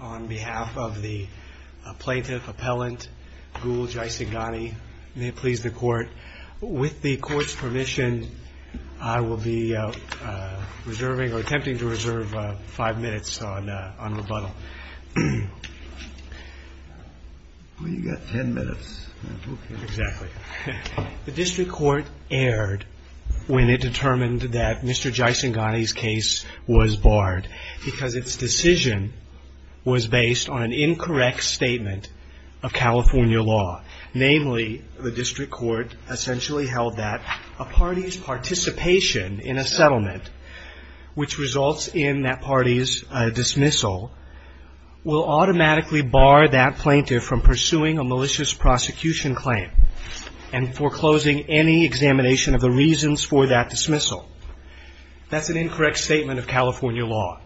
On behalf of the plaintiff-appellant Gul Jaisinghani, may it please the Court, with the Court's permission, I will be attempting to reserve five minutes on rebuttal. Well, you've got ten minutes, that's okay. The District Court erred when it determined that Mr. Jaisinghani's case was barred because its decision was based on an incorrect statement of California law. Namely, the District Court essentially held that a party's participation in a settlement which results in that party's dismissal will automatically bar that plaintiff from pursuing a malicious prosecution claim. And foreclosing any examination of the reasons for that dismissal. That's an incorrect statement of California law.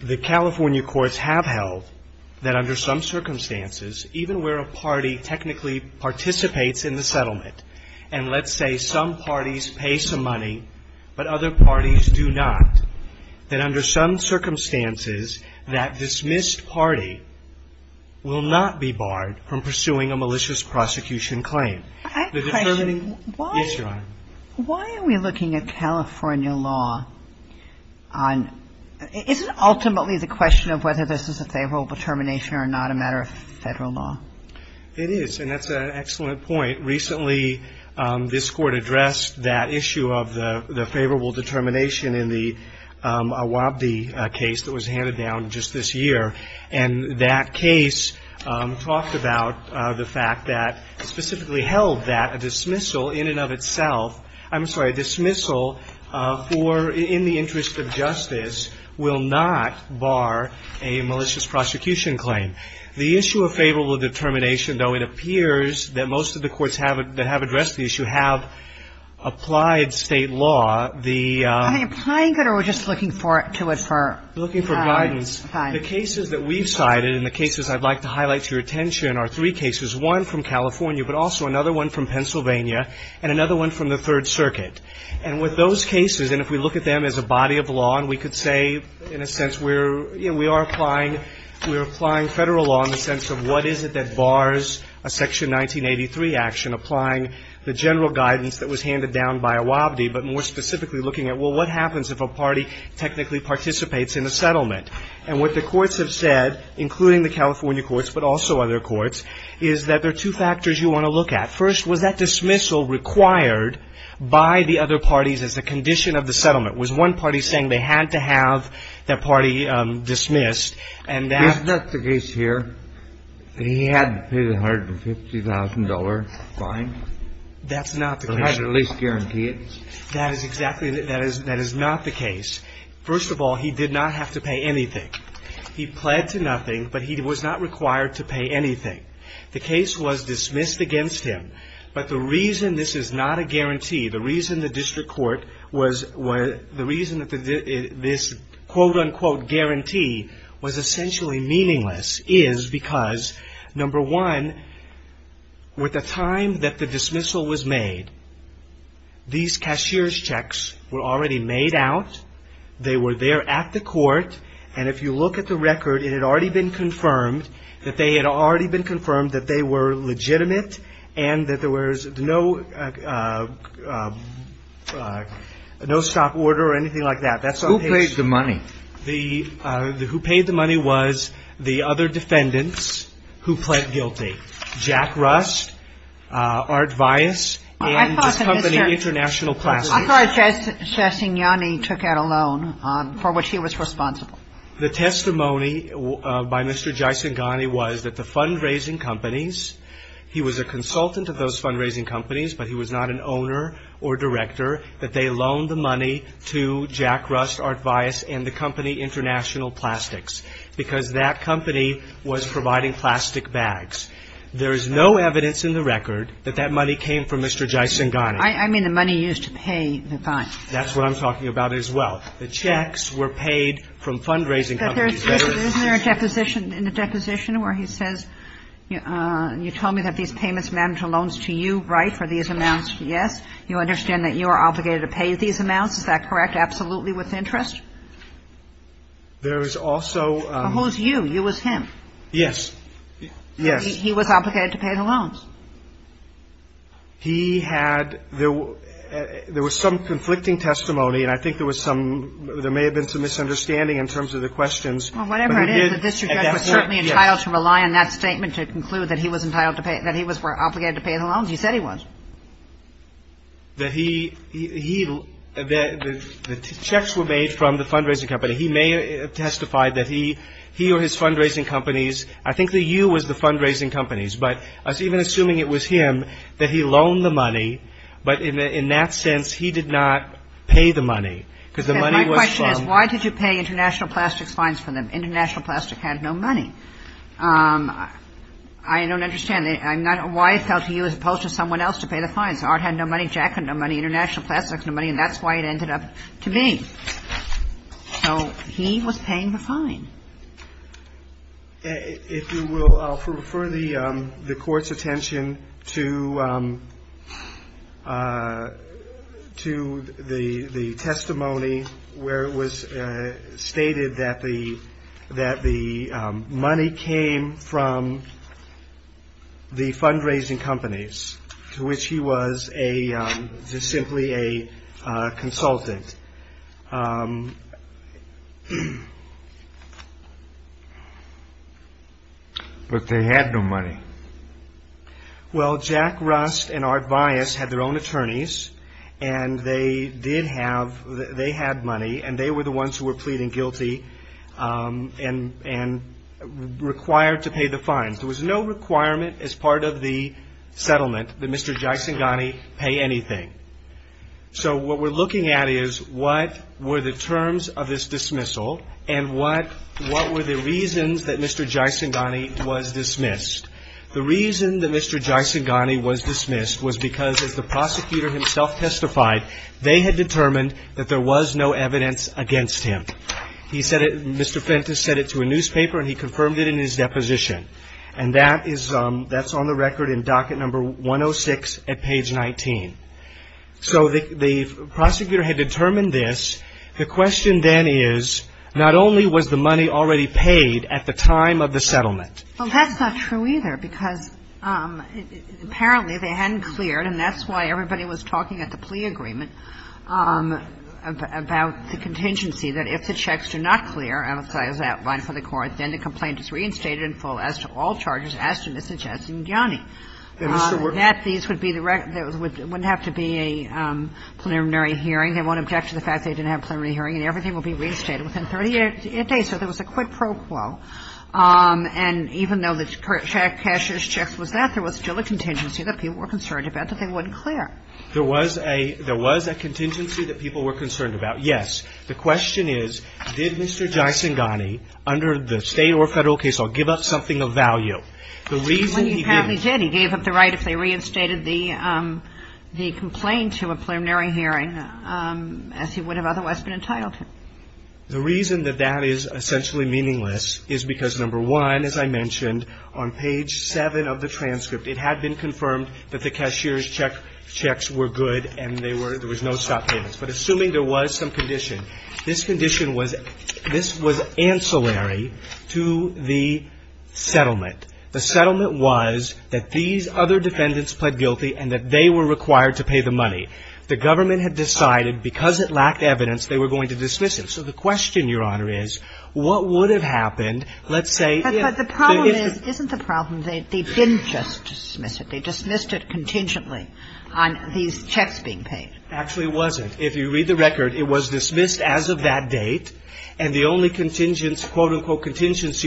The California courts have held that under some circumstances, even where a party technically participates in the settlement, and let's say some parties pay some money but other parties do not, that under some circumstances, that dismissed party will not be barred from pursuing a malicious prosecution claim. I have a question. Yes, Your Honor. Why are we looking at California law on – isn't ultimately the question of whether this is a favorable determination or not a matter of Federal law? It is, and that's an excellent point. Recently, this Court addressed that issue of the favorable determination in the Awabdi case that was handed down just this year. And that case talked about the fact that – specifically held that a dismissal in and of itself – I'm sorry, a dismissal for – in the interest of justice will not bar a malicious prosecution claim. The issue of favorable determination, though, it appears that most of the courts that have addressed the issue have applied State law. The – Are they applying it or are we just looking to it for – Looking for guidance. Fine. The cases that we've cited and the cases I'd like to highlight to your attention are three cases. One from California, but also another one from Pennsylvania, and another one from the Third Circuit. And with those cases, and if we look at them as a body of law, and we could say, in a sense, we're – you know, we are applying – we're applying Federal law in the sense of what is it that bars a Section 1983 action applying the general guidance that was handed down by Awabdi, but more specifically looking at, well, what happens if a party technically participates in a settlement? And what the courts have said, including the California courts, but also other courts, is that there are two factors you want to look at. First, was that dismissal required by the other parties as a condition of the settlement? Was one party saying they had to have that party dismissed, and that – That's not the case here. That he had to pay the $150,000 fine. That's not the case. Or at least guarantee it. That is exactly – that is not the case. First of all, he did not have to pay anything. He pled to nothing, but he was not required to pay anything. The case was dismissed against him, but the reason this is not a guarantee, the reason the district court was – is because, number one, with the time that the dismissal was made, these cashier's checks were already made out. They were there at the court. And if you look at the record, it had already been confirmed that they had already been confirmed that they were legitimate and that there was no stop order or anything like that. Who paid the money? The – who paid the money was the other defendants who pled guilty, Jack Rust, Art Vias, and the company International Classics. I thought that Mr. – I thought Jaisinghani took out a loan for which he was responsible. The testimony by Mr. Jaisinghani was that the fundraising companies – he was a consultant of those fundraising companies, but he was not an owner or director – that they loaned the money to Jack Rust, Art Vias, and the company International Plastics because that company was providing plastic bags. There is no evidence in the record that that money came from Mr. Jaisinghani. I mean the money used to pay the fine. That's what I'm talking about as well. The checks were paid from fundraising companies. Isn't there a deposition – in the deposition where he says, you told me that these payments were due to you, and you said that you were obligated to pay these amounts. Is that correct? Absolutely with interest? There is also – Who's you? You was him. Yes. Yes. He was obligated to pay the loans. He had – there was some conflicting testimony, and I think there was some – there may have been some misunderstanding in terms of the questions. Well, whatever it is, the district judge was certainly entitled to rely on that statement to conclude that he was entitled to pay – that he was obligated to pay the loans. He said he was. That he – the checks were made from the fundraising company. He may have testified that he or his fundraising companies – I think that you was the fundraising companies, but even assuming it was him, that he loaned the money, but in that sense he did not pay the money because the money was from – My question is why did you pay International Plastics fines for them? International Plastics had no money. I don't understand. I'm not – why it fell to you as opposed to someone else to pay the fines. Art had no money. Jack had no money. International Plastics had no money, and that's why it ended up to me. So he was paying the fine. If you will, I'll refer the Court's attention to the testimony where it was stated that the money came from the fundraising companies, to which he was a – just simply a consultant. But they had no money. Well, Jack Rust and Art Bias had their own attorneys, and they did have – they had money, and they were the ones who were pleading guilty and required to pay the fines. There was no requirement as part of the settlement that Mr. Jaisinghani pay anything. So what we're looking at is what were the terms of this dismissal, and what were the reasons that Mr. Jaisinghani was dismissed. The reason that Mr. Jaisinghani was dismissed was because, as the prosecutor himself testified, they had determined that there was no evidence against him. He said it – Mr. Fentis said it to a newspaper, and he confirmed it in his deposition. And that is – that's on the record in docket number 106 at page 19. So the prosecutor had determined this. The question then is, not only was the money already paid at the time of the settlement. Well, that's not true either, because apparently they hadn't cleared, and that's why everybody was talking at the plea agreement about the contingency, that if the checks do not clear, as outlined for the court, then the complaint is reinstated in full as to all charges as to Mr. Jaisinghani. That these would be the – there wouldn't have to be a preliminary hearing. They won't object to the fact they didn't have a preliminary hearing, and everything will be reinstated within 38 days. So there was a quid pro quo. And even though the cashier's checks was that, there was still a contingency that people were concerned about that they wouldn't clear. There was a – there was a contingency that people were concerned about, yes. The question is, did Mr. Jaisinghani, under the State or Federal case law, give up something of value? The reason he didn't – When he apparently did, he gave up the right if they reinstated the complaint to a preliminary hearing as he would have otherwise been entitled to. The reason that that is essentially meaningless is because, number one, as I mentioned, on page 7 of the transcript, it had been confirmed that the cashier's checks were good and they were – there was no stop payments. But assuming there was some condition, this condition was – this was ancillary to the settlement. The settlement was that these other defendants pled guilty and that they were required to pay the money. The government had decided, because it lacked evidence, they were going to dismiss it. So the question, Your Honor, is what would have happened, let's say, if the – But the problem is – isn't the problem they didn't just dismiss it. They dismissed it contingently on these checks being paid. Actually, it wasn't. If you read the record, it was dismissed as of that date. And the only contingency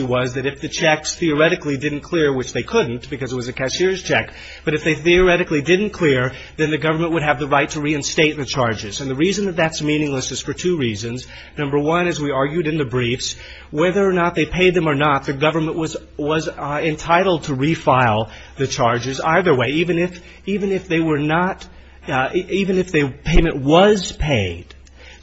was that if the checks theoretically didn't clear, which they couldn't because it was a cashier's check, but if they theoretically didn't clear, then the government would have the right to reinstate the charges. And the reason that that's meaningless is for two reasons. Number one, as we argued in the briefs, whether or not they paid them or not, the government was entitled to refile the charges either way, even if – even if the payment was paid,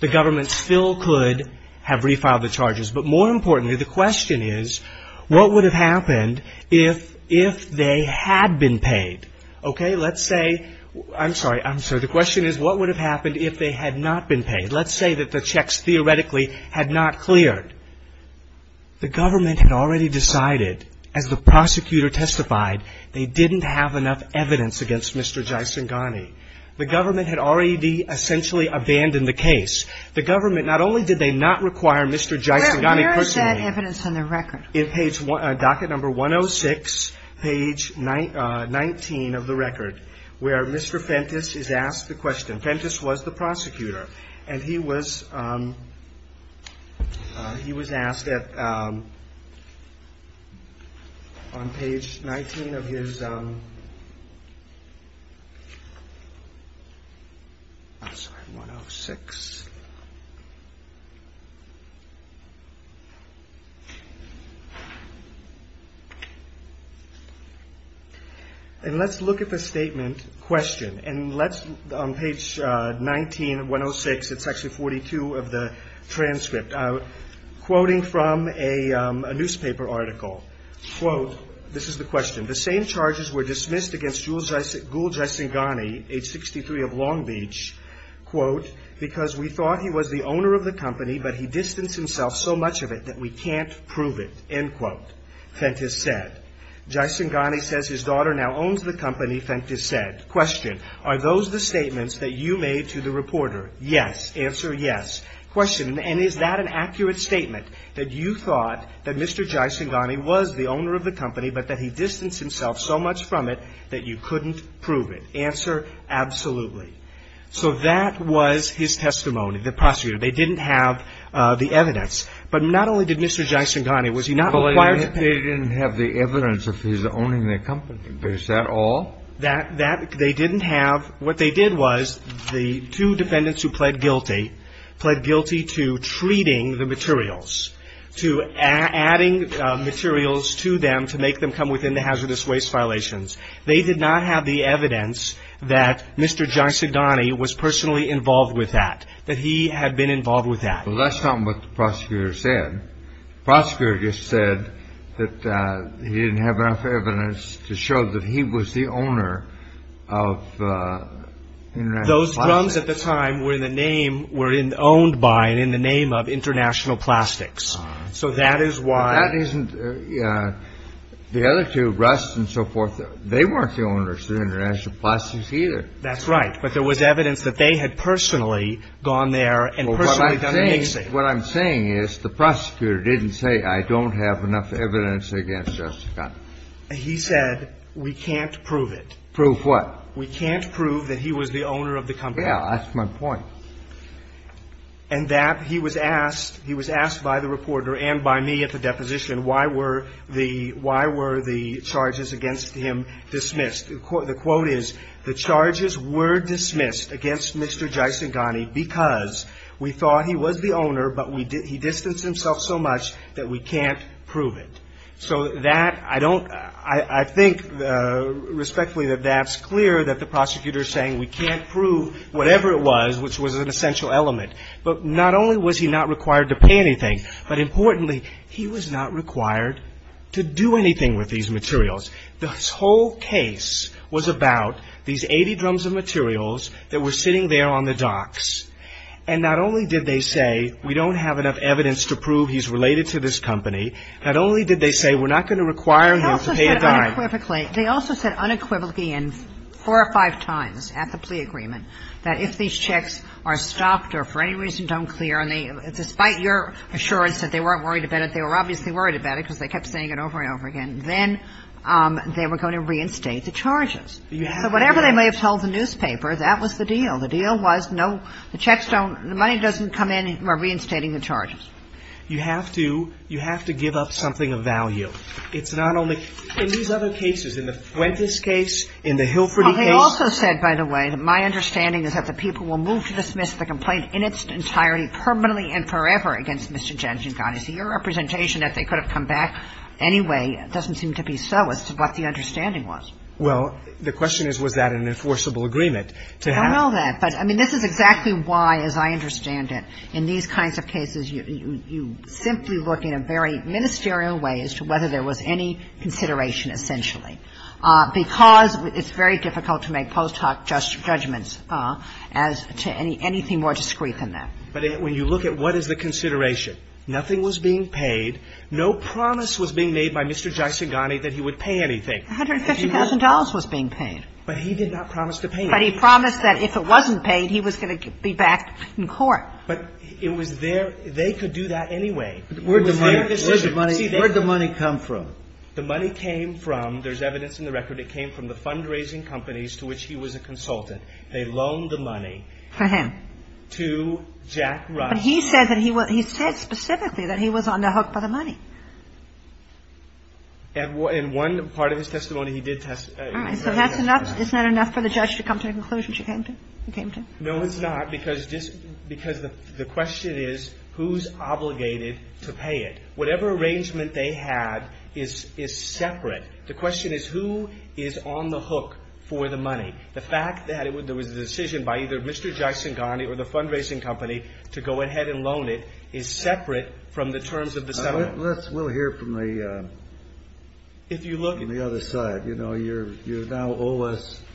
the government still could have refiled the charges. But more importantly, the question is, what would have happened if they had been paid? Okay, let's say – I'm sorry, I'm sorry. The question is, what would have happened if they had not been paid? Let's say that the checks theoretically had not cleared. The government had already decided, as the prosecutor testified, they didn't have enough evidence against Mr. Jaisinghani. The government had already essentially abandoned the case. The government, not only did they not require Mr. Jaisinghani personally. Where is that evidence on the record? In page – docket number 106, page 19 of the record, where Mr. Fentis is asked the question. Fentis was the prosecutor. And he was – he was asked at – on page 19 of his – I'm sorry, 106. And let's look at the statement, question, and let's – on page 19 of 106, it's actually 42 of the transcript. Quoting from a newspaper article, quote, this is the question. The same charges were dismissed against Gul Jaisinghani, age 63, of Long Beach, quote, because we thought he was the owner of the company, but he distanced himself so much of it that we can't prove it, end quote, Fentis said. Jaisinghani says his daughter now owns the company, Fentis said. Question, are those the statements that you made to the reporter? Yes. Answer, yes. Question, and is that an accurate statement, that you thought that Mr. Jaisinghani was the owner of the company, but that he distanced himself so much from it that you couldn't prove it? Answer, absolutely. So that was his testimony, the prosecutor. They didn't have the evidence. But not only did Mr. Jaisinghani, was he not required to pay – But they didn't have the evidence of his owning the company. Is that all? That – they didn't have – what they did was the two defendants who pled guilty, pled guilty to treating the materials, to adding materials to them to make them come within the hazardous waste violations. They did not have the evidence that Mr. Jaisinghani was personally involved with that, that he had been involved with that. Well, that's not what the prosecutor said. The prosecutor just said that he didn't have enough evidence to show that he was the owner of international plastics. Those drums at the time were in the name – were owned by and in the name of international plastics. So that is why – Well, that isn't – the other two, Rust and so forth, they weren't the owners of international plastics either. That's right. But there was evidence that they had personally gone there and personally done the mixing. What I'm saying is the prosecutor didn't say, I don't have enough evidence against Jessica. He said, we can't prove it. Prove what? We can't prove that he was the owner of the company. Yeah. That's my point. And that he was asked – he was asked by the reporter and by me at the deposition, why were the – why were the charges against him dismissed? The quote is, the charges were dismissed against Mr. Jaisinghani because we thought he was the owner, but we – he distanced himself so much that we can't prove it. So that – I don't – I think respectfully that that's clear that the prosecutor is saying we can't prove whatever it was which was an essential element. But not only was he not required to pay anything, but importantly, he was not required to do anything with these materials. This whole case was about these 80 drums of materials that were sitting there on the docks. And not only did they say, we don't have enough evidence to prove he's related to this company, not only did they say, we're not going to require him to pay a dime. But unequivocally, they also said unequivocally and four or five times at the plea agreement that if these checks are stopped or for any reason don't clear and they – despite your assurance that they weren't worried about it, they were obviously worried about it because they kept saying it over and over again, then they were going to reinstate the charges. So whatever they may have told the newspaper, that was the deal. The deal was no – the checks don't – the money doesn't come in by reinstating You have to – you have to give up something of value. It's not only – in these other cases, in the Fuentes case, in the Hilferty case Well, they also said, by the way, that my understanding is that the people will move to dismiss the complaint in its entirety permanently and forever against Mr. Jenkin. God, is your representation that they could have come back anyway doesn't seem to be so as to what the understanding was. Well, the question is, was that an enforceable agreement to have I don't know that. But, I mean, this is exactly why, as I understand it, in these kinds of cases, you simply look in a very ministerial way as to whether there was any consideration, essentially. Because it's very difficult to make post hoc judgments as to anything more discreet than that. But when you look at what is the consideration, nothing was being paid, no promise was being made by Mr. Jaisinghani that he would pay anything. $150,000 was being paid. But he did not promise to pay anything. But he promised that if it wasn't paid, he was going to be back in court. But it was their – they could do that anyway. It was their decision. Where did the money come from? The money came from, there's evidence in the record, it came from the fundraising companies to which he was a consultant. They loaned the money. For him. To Jack Rush. But he said that he was – he said specifically that he was on the hook by the money. In one part of his testimony, he did – All right. So that's enough – isn't that enough for the judge to come to a conclusion she came to? No, it's not. Because the question is, who's obligated to pay it? Whatever arrangement they had is separate. The question is, who is on the hook for the money? The fact that there was a decision by either Mr. Jaisinghani or the fundraising company to go ahead and loan it is separate from the terms of the settlement. Let's – we'll hear from the – If you look – On the other side, you know, you now owe us –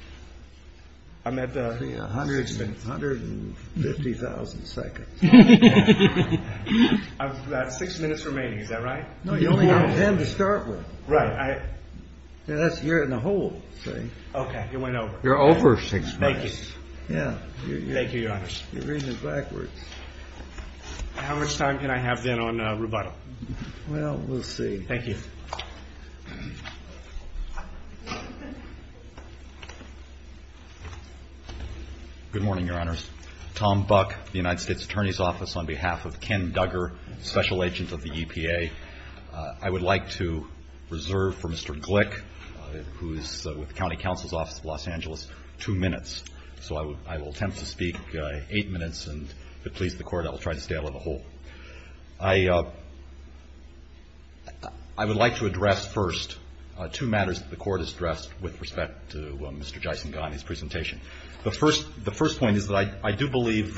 I'm at 150,000 seconds. I've got six minutes remaining. Is that right? No, you only have ten to start with. Right. That's – you're in the hole, see? Okay. It went over. You're over six minutes. Thank you. Yeah. Thank you, Your Honor. You're reading it backwards. How much time can I have then on rubato? Well, we'll see. Thank you. Good morning, Your Honors. Tom Buck, the United States Attorney's Office, on behalf of Ken Duggar, Special Agent of the EPA. I would like to reserve for Mr. Glick, who is with the County Counsel's Office of Los Angeles, two minutes. So I will attempt to speak eight minutes, and if it pleases the Court, I will try to stay out of the hole. I would like to address first two matters that the Court has addressed with respect to Mr. Jaisinghani's presentation. The first point is that I do believe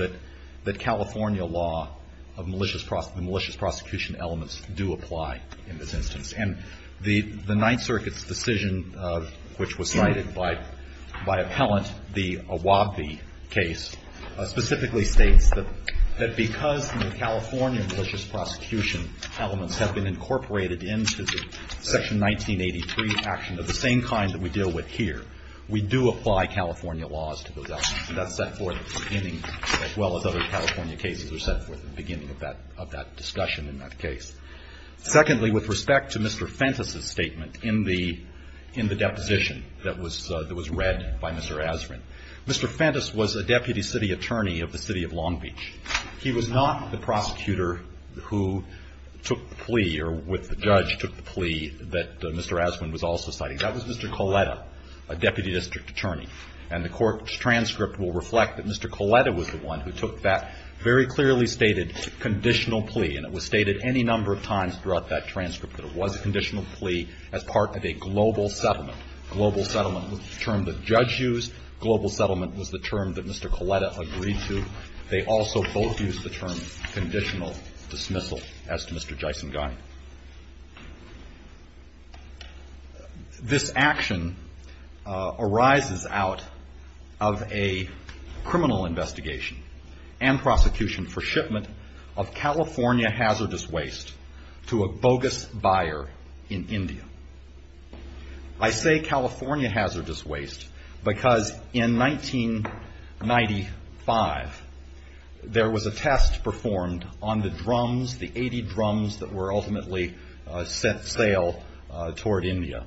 that California law of malicious prosecution elements do apply in this instance. And the Ninth Circuit's decision, which was cited by appellant, the Awabi case, specifically states that because the California malicious prosecution elements have been incorporated into the Section 1983 action of the same kind that we deal with here, we do apply California laws to those elements. And that's set forth at the beginning, as well as other California cases are set forth at the beginning of that discussion in that case. Secondly, with respect to Mr. Fentus's statement in the deposition that was read by Mr. Aswin, Mr. Fentus was a deputy city attorney of the City of Long Beach. He was not the prosecutor who took the plea or with the judge took the plea that Mr. Aswin was also citing. That was Mr. Coletta, a deputy district attorney. And the Court's transcript will reflect that Mr. Coletta was the one who took that very clearly stated conditional plea. And it was stated any number of times throughout that transcript that it was a conditional plea as part of a global settlement. Global settlement was the term the judge used. Global settlement was the term that Mr. Coletta agreed to. They also both used the term conditional dismissal as to Mr. Jaisinghani. This action arises out of a criminal investigation and prosecution for shipment of California hazardous waste to a bogus buyer in India. I say California hazardous waste because in 1995 there was a test performed on the drums, the 80 drums that were ultimately sent sail toward India.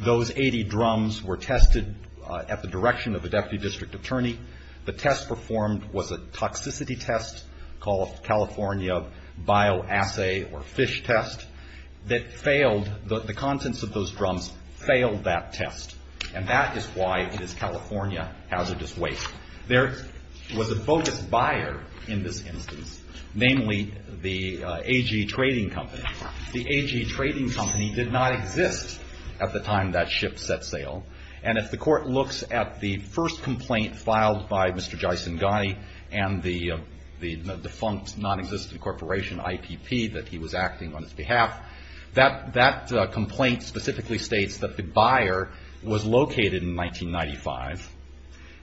Those 80 drums were tested at the direction of the deputy district attorney. The test performed was a toxicity test called California bioassay or fish test that failed. The contents of those drums failed that test. And that is why it is California hazardous waste. There was a bogus buyer in this instance, namely the A.G. Trading Company. The A.G. Trading Company did not exist at the time that ship set sail. And if the Court looks at the first complaint filed by Mr. Jaisinghani and the defunct nonexistent corporation IPP that he was acting on his behalf, that complaint specifically states that the buyer was located in 1995.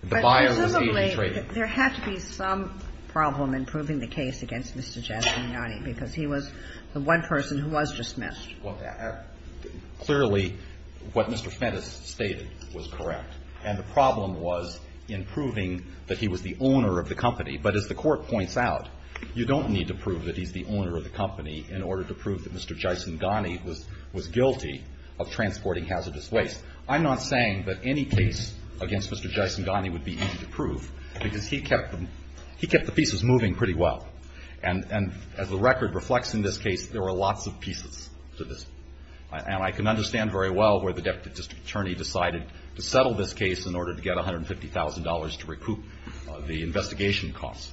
The buyer was A.G. Trading. But presumably there had to be some problem in proving the case against Mr. Jaisinghani because he was the one person who was dismissed. Well, clearly what Mr. Fentis stated was correct. And the problem was in proving that he was the owner of the company. But as the Court points out, you don't need to prove that he's the owner of the company in order to prove that Mr. Jaisinghani was guilty of transporting hazardous waste. I'm not saying that any case against Mr. Jaisinghani would be easy to prove because he kept the pieces moving pretty well. And as the record reflects in this case, there were lots of pieces to this. And I can understand very well where the Deputy District Attorney decided to settle this case in order to get $150,000 to recoup the investigation costs.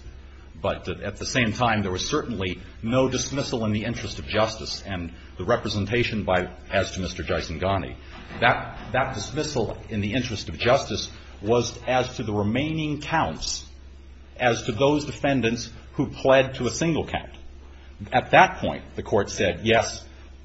But at the same time, there was certainly no dismissal in the interest of justice and the representation as to Mr. Jaisinghani. That dismissal in the interest of justice was as to the remaining counts as to those defendants who pled to a single count. At that point, the Court said yes,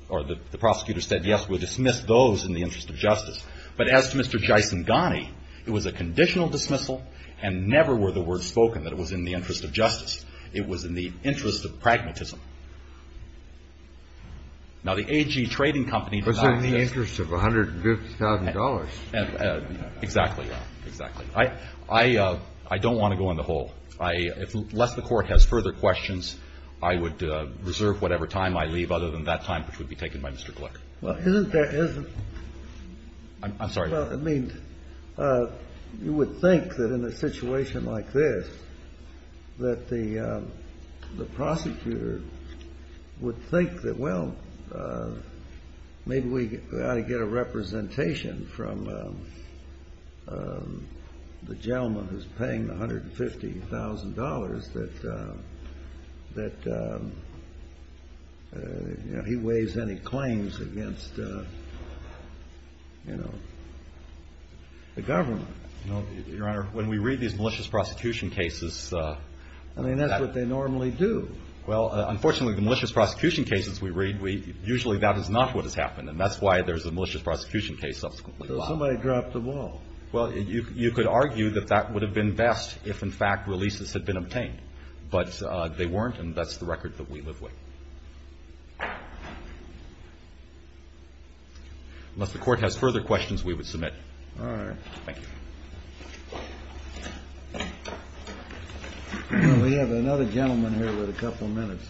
or the prosecutor said yes, we'll dismiss those in the interest of justice. But as to Mr. Jaisinghani, it was a conditional dismissal and never were the words spoken that it was in the interest of justice. It was in the interest of pragmatism. Now, the AG Trading Company denied this. Kennedy. Was it in the interest of $150,000? Gannon. Exactly. Exactly. I don't want to go in the hole. Unless the Court has further questions, I would reserve whatever time I leave other than that time which would be taken by Mr. Gluck. Well, isn't there as a ---- Gannon. I'm sorry. Kennedy. Well, I mean, you would think that in a situation like this that the prosecutor would think that, well, maybe we ought to get a representation from the gentleman who's paying the $150,000 that, you know, he weighs any claims against, you know, the government. Well, Your Honor, when we read these malicious prosecution cases ---- I mean, that's what they normally do. Well, unfortunately, the malicious prosecution cases we read, usually that is not what has happened, and that's why there's a malicious prosecution case subsequently filed. So somebody dropped the ball. Well, you could argue that that would have been best if, in fact, releases had been obtained. But they weren't, and that's the record that we live with. Unless the Court has further questions, we would submit. All right. Thank you. We have another gentleman here with a couple minutes.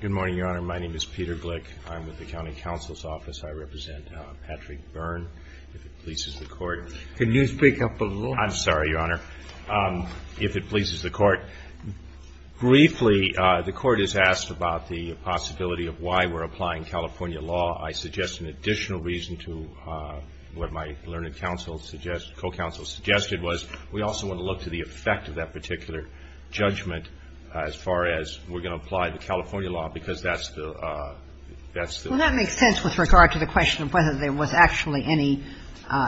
Good morning, Your Honor. My name is Peter Glick. I'm with the County Counsel's Office. I represent Patrick Byrne. If it pleases the Court ---- I'm sorry, Your Honor. If it pleases the Court, briefly, the Court has asked about the possibility of why we're applying California law. I suggest an additional reason to what my learned counsel suggested, co-counsel suggested, was we also want to look to the effect of that particular judgment as far as we're going to apply the California law, because that's the ---- Well, that makes sense with regard to the question of whether there was actually any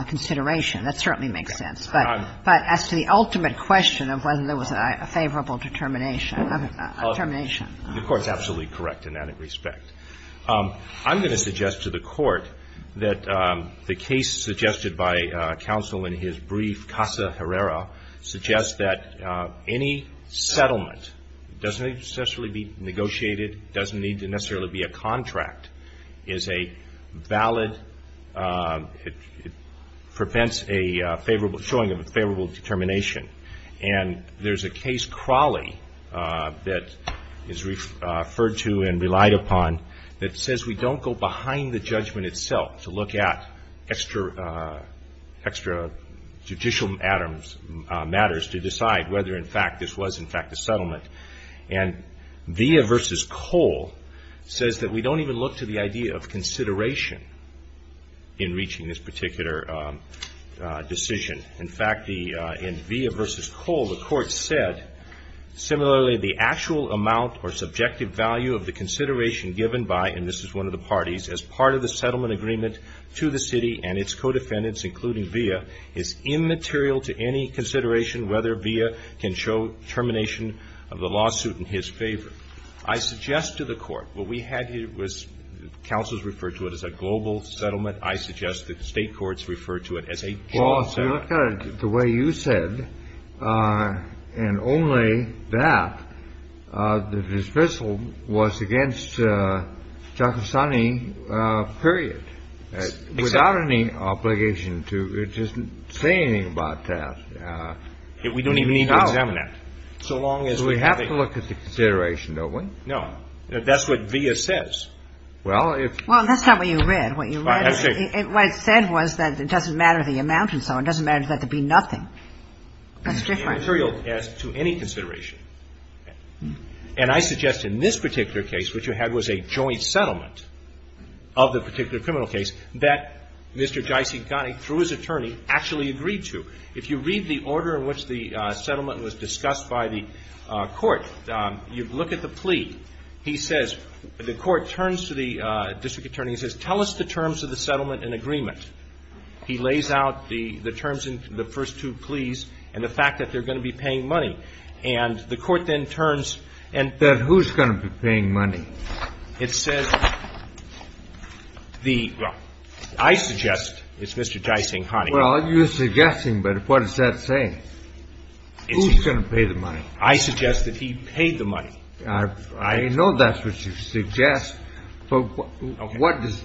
consideration. That certainly makes sense. But as to the ultimate question of whether there was a favorable determination ---- The Court's absolutely correct in that respect. I'm going to suggest to the Court that the case suggested by counsel in his brief, Casa Herrera, suggests that any settlement doesn't necessarily be negotiated, doesn't need to necessarily be a contract, is a valid ---- prevents a favorable showing of a favorable determination. And there's a case, Crawley, that is referred to and relied upon that says we don't go behind the judgment itself to look at extra judicial matters to decide whether, in fact, this was, in fact, a settlement. And Villa v. Cole says that we don't even look to the idea of consideration in reaching this particular decision. In fact, in Villa v. Cole, the Court said, similarly, the actual amount or subjective value of the consideration given by, and this is one of the parties, as part of the settlement agreement to the city and its co-defendants, including Villa, is immaterial to any consideration whether Villa can show termination of the lawsuit in his favor. I suggest to the Court what we had here was counsels referred to it as a global settlement. I suggest that State courts refer to it as a job settlement. The way you said, and only that, the dismissal was against Giacostani, period, without any obligation to just say anything about that. We don't even need to examine that. So long as we have a ---- We have to look at the consideration, don't we? No. That's what Villa says. Well, if ---- Well, that's not what you read. What you read is, what it said was that it doesn't matter the amount and so on. It doesn't matter that there be nothing. That's different. Immaterial as to any consideration. And I suggest in this particular case, which you had was a joint settlement of the particular criminal case, that Mr. Giacostani, through his attorney, actually agreed to. If you read the order in which the settlement was discussed by the court, you look at the plea. He says, the court turns to the district attorney and says, tell us the terms of the settlement in agreement. He lays out the terms in the first two pleas and the fact that they're going to be paying money. And the court then turns and ---- Then who's going to be paying money? It says the ---- I suggest it's Mr. Giacostani. Well, you're suggesting, but what does that say? Who's going to pay the money? I suggest that he paid the money. I know that's what you suggest, but what does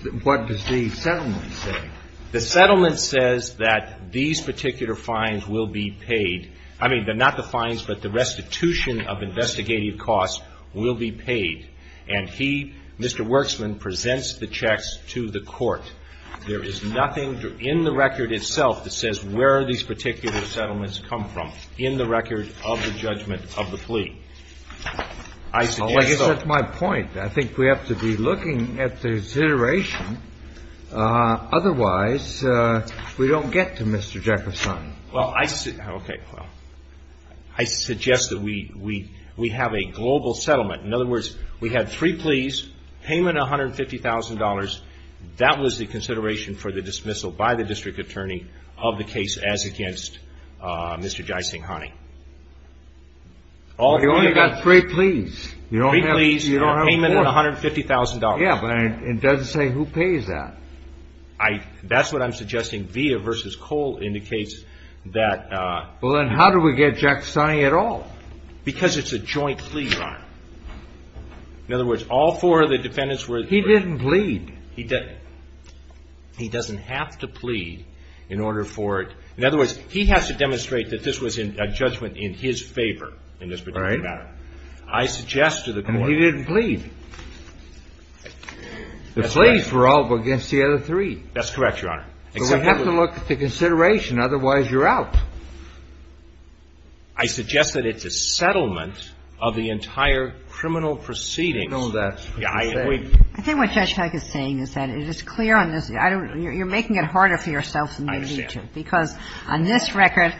the settlement say? The settlement says that these particular fines will be paid. I mean, not the fines, but the restitution of investigative costs will be paid. And he, Mr. Werxman, presents the checks to the court. There is nothing in the record itself that says where these particular settlements come from in the record of the judgment of the plea. I suggest that ---- Well, I guess that's my point. I think we have to be looking at the consideration. Otherwise, we don't get to Mr. Giacostani. Well, I ---- okay. I suggest that we have a global settlement. In other words, we have three pleas, payment of $150,000. That was the consideration for the dismissal by the district attorney of the case as against Mr. Giacostani. Well, you only got three pleas. Three pleas and a payment of $150,000. Yeah, but it doesn't say who pays that. That's what I'm suggesting. Via versus Cole indicates that ---- Well, then how do we get Giacostani at all? Because it's a joint plea file. In other words, all four of the defendants were ---- He didn't plead. He doesn't have to plead in order for it ---- In other words, he has to demonstrate that this was a judgment in his favor in this particular matter. All right. I suggest to the Court ---- And he didn't plead. That's right. The pleas were all against the other three. That's correct, Your Honor. But we have to look at the consideration. Otherwise, you're out. I suggest that it's a settlement of the entire criminal proceedings. I think what Judge Feig is saying is that it is clear on this. You're making it harder for yourself than you need to. I understand. Because on this record,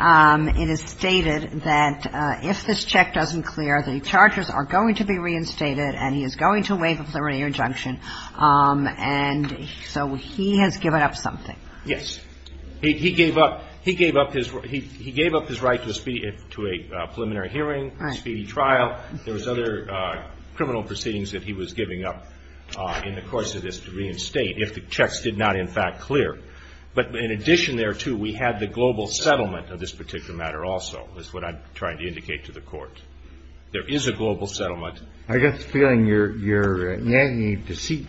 it is stated that if this check doesn't clear, the charges are going to be reinstated and he is going to waive a preliminary injunction. And so he has given up something. Yes. He gave up his right to a preliminary hearing, a speedy trial. There was other criminal proceedings that he was giving up in the course of this reinstate if the checks did not, in fact, clear. But in addition there, too, we have the global settlement of this particular matter also is what I'm trying to indicate to the Court. There is a global settlement. I guess feeling your nagging deceit,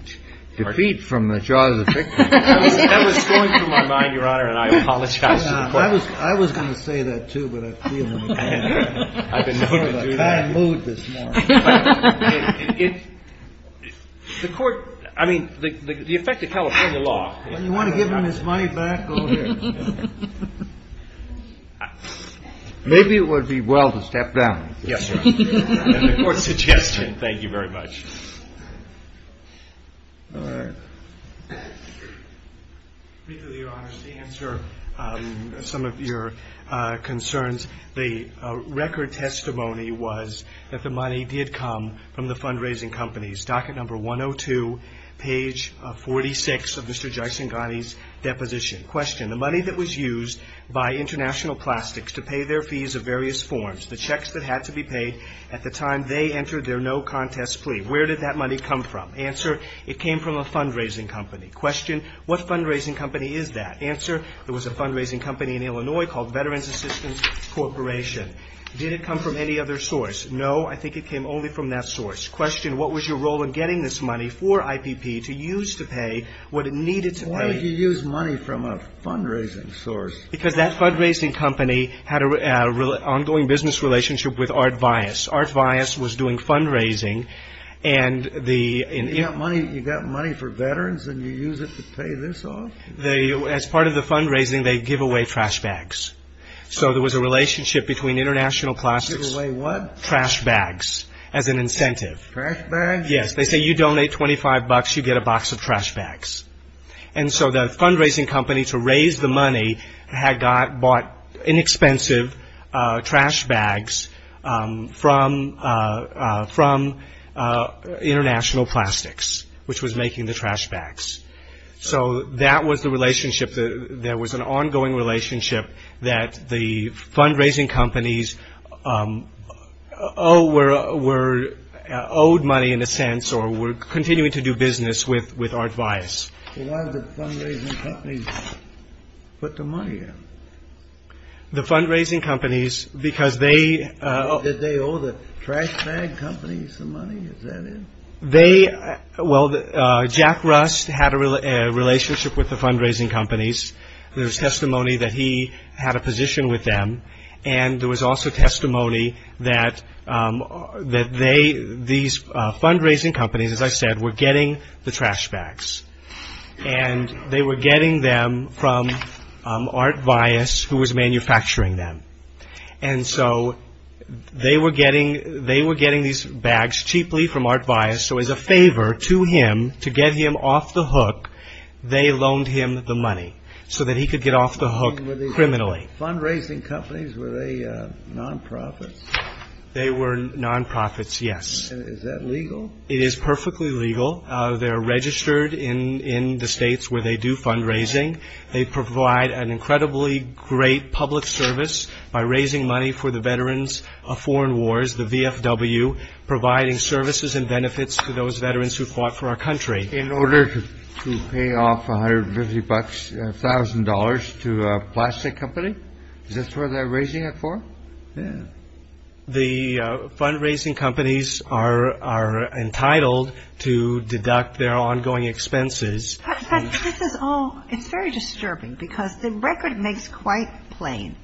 defeat from the jaws of victory. That was going through my mind, Your Honor, and I apologize. I was going to say that, too, but I feel it. I've been known to do that. I'm in a bad mood this morning. The Court, I mean, the effect of California law. When you want to give him his money back, go ahead. Maybe it would be well to step down. Yes, Your Honor. And the Court's suggestion. Thank you very much. All right. Your Honor, to answer some of your concerns, the record testimony was that the money did come from the fundraising companies. Docket number 102, page 46 of Mr. Jaisinghani's deposition. Question. The money that was used by International Plastics to pay their fees of various forms, the checks that had to be paid at the time they entered their no contest plea. Where did that money come from? Answer. It came from a fundraising company. Question. What fundraising company is that? Answer. It was a fundraising company in Illinois called Veterans Assistance Corporation. Did it come from any other source? No. I think it came only from that source. Question. What was your role in getting this money for IPP to use to pay what it needed to pay? Why would you use money from a fundraising source? Because that fundraising company had an ongoing business relationship with Art Vyas. Art Vyas was doing fundraising. You got money for veterans and you use it to pay this off? As part of the fundraising, they give away trash bags. So there was a relationship between International Plastics. Give away what? Trash bags as an incentive. Trash bags? Yes. They say you donate 25 bucks, you get a box of trash bags. So the fundraising company, to raise the money, had bought inexpensive trash bags from International Plastics, which was making the trash bags. So that was the relationship. There was an ongoing relationship that the fundraising companies owed money, in a sense, or were continuing to do business with Art Vyas. So why did the fundraising companies put the money in? The fundraising companies, because they... Did they owe the trash bag companies the money? Is that it? Well, Jack Rust had a relationship with the fundraising companies. There was testimony that he had a position with them. And there was also testimony that these fundraising companies, as I said, were getting the trash bags. And they were getting them from Art Vyas, who was manufacturing them. And so they were getting these bags cheaply from Art Vyas. So as a favor to him, to get him off the hook, they loaned him the money so that he could get off the hook criminally. Were these fundraising companies, were they non-profits? They were non-profits, yes. Is that legal? It is perfectly legal. They're registered in the states where they do fundraising. They provide an incredibly great public service by raising money for the Veterans of Foreign Wars, the VFW, providing services and benefits to those veterans who fought for our country. In order to pay off $150,000 to a plastic company? Is this what they're raising it for? Yeah. The fundraising companies are entitled to deduct their ongoing expenses. It's very disturbing because the record makes quite plain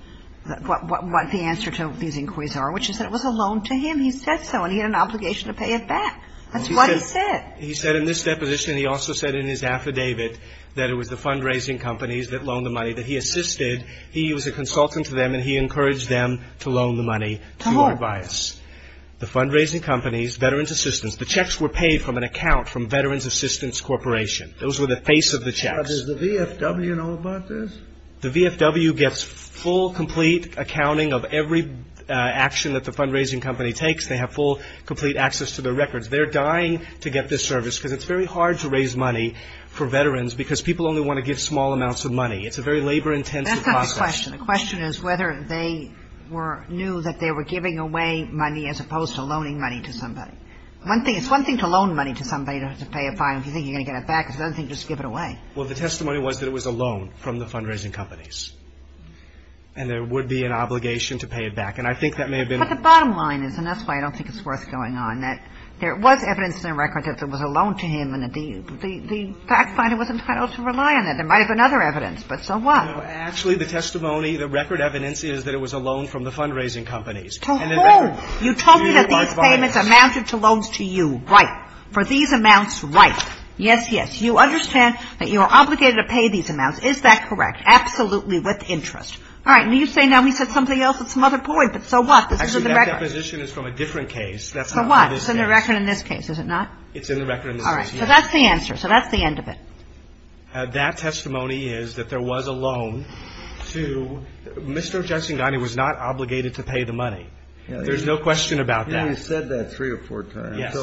what the answer to these inquiries are, which is that it was a loan to him. He said so, and he had an obligation to pay it back. That's what he said. He said in this deposition, and he also said in his affidavit, that it was the fundraising companies that loaned the money that he assisted. He was a consultant to them, and he encouraged them to loan the money to Art Vyas. To whom? The fundraising companies, Veterans Assistance. The checks were paid from an account from Veterans Assistance Corporation. Those were the face of the checks. Does the VFW know about this? The VFW gets full, complete accounting of every action that the fundraising company takes. They have full, complete access to their records. They're dying to get this service because it's very hard to raise money for veterans because people only want to give small amounts of money. It's a very labor-intensive process. That's not the question. The question is whether they knew that they were giving away money as opposed to loaning money to somebody. It's one thing to loan money to somebody to pay a fine. If you think you're going to get it back, it's another thing to just give it away. Well, the testimony was that it was a loan from the fundraising companies, and there would be an obligation to pay it back. And I think that may have been the case. But the bottom line is, and that's why I don't think it's worth going on, that there was evidence in the record that it was a loan to him, and the fact finder was entitled to rely on it. There might have been other evidence, but so what? Actually, the testimony, the record evidence is that it was a loan from the fundraising companies. To whom? You told me that these payments amounted to loans to you. Right. For these amounts, right. Yes, yes. You understand that you are obligated to pay these amounts. Is that correct? Absolutely with interest. All right. And you say now we said something else that's another point, but so what? This is in the record. Actually, that deposition is from a different case. That's not from this case. So what? It's in the record in this case, is it not? It's in the record in this case, yes. All right. So that's the answer. So that's the end of it. That testimony is that there was a loan to Mr. Jetsingani was not obligated to pay the money. There's no question about that. He said that three or four times. Yes.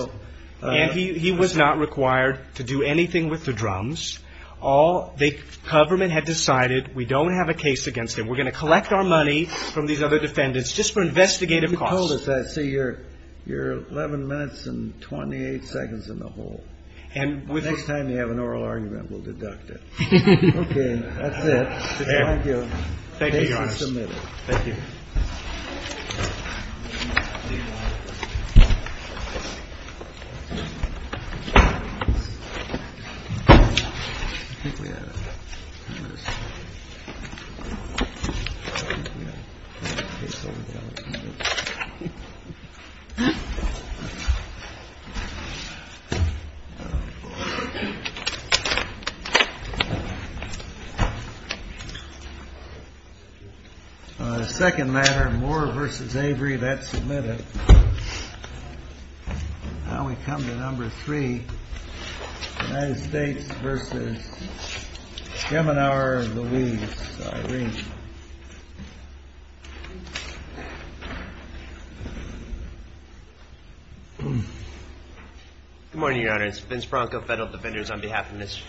And he was not required to do anything with the drums. The government had decided we don't have a case against him. We're going to collect our money from these other defendants just for investigative costs. You told us that. See, you're 11 minutes and 28 seconds in the hole. Next time you have an oral argument, we'll deduct it. Okay. That's it. Thank you. Thank you, Your Honor. Case is submitted. Thank you. Thank you. In the second matter, Moore v. Avery, that's submitted. Now we come to number three. United States v. Geminar Louise Irene. Good morning, Your Honors. Vince Bronco, Federal Defenders, on behalf of Miss...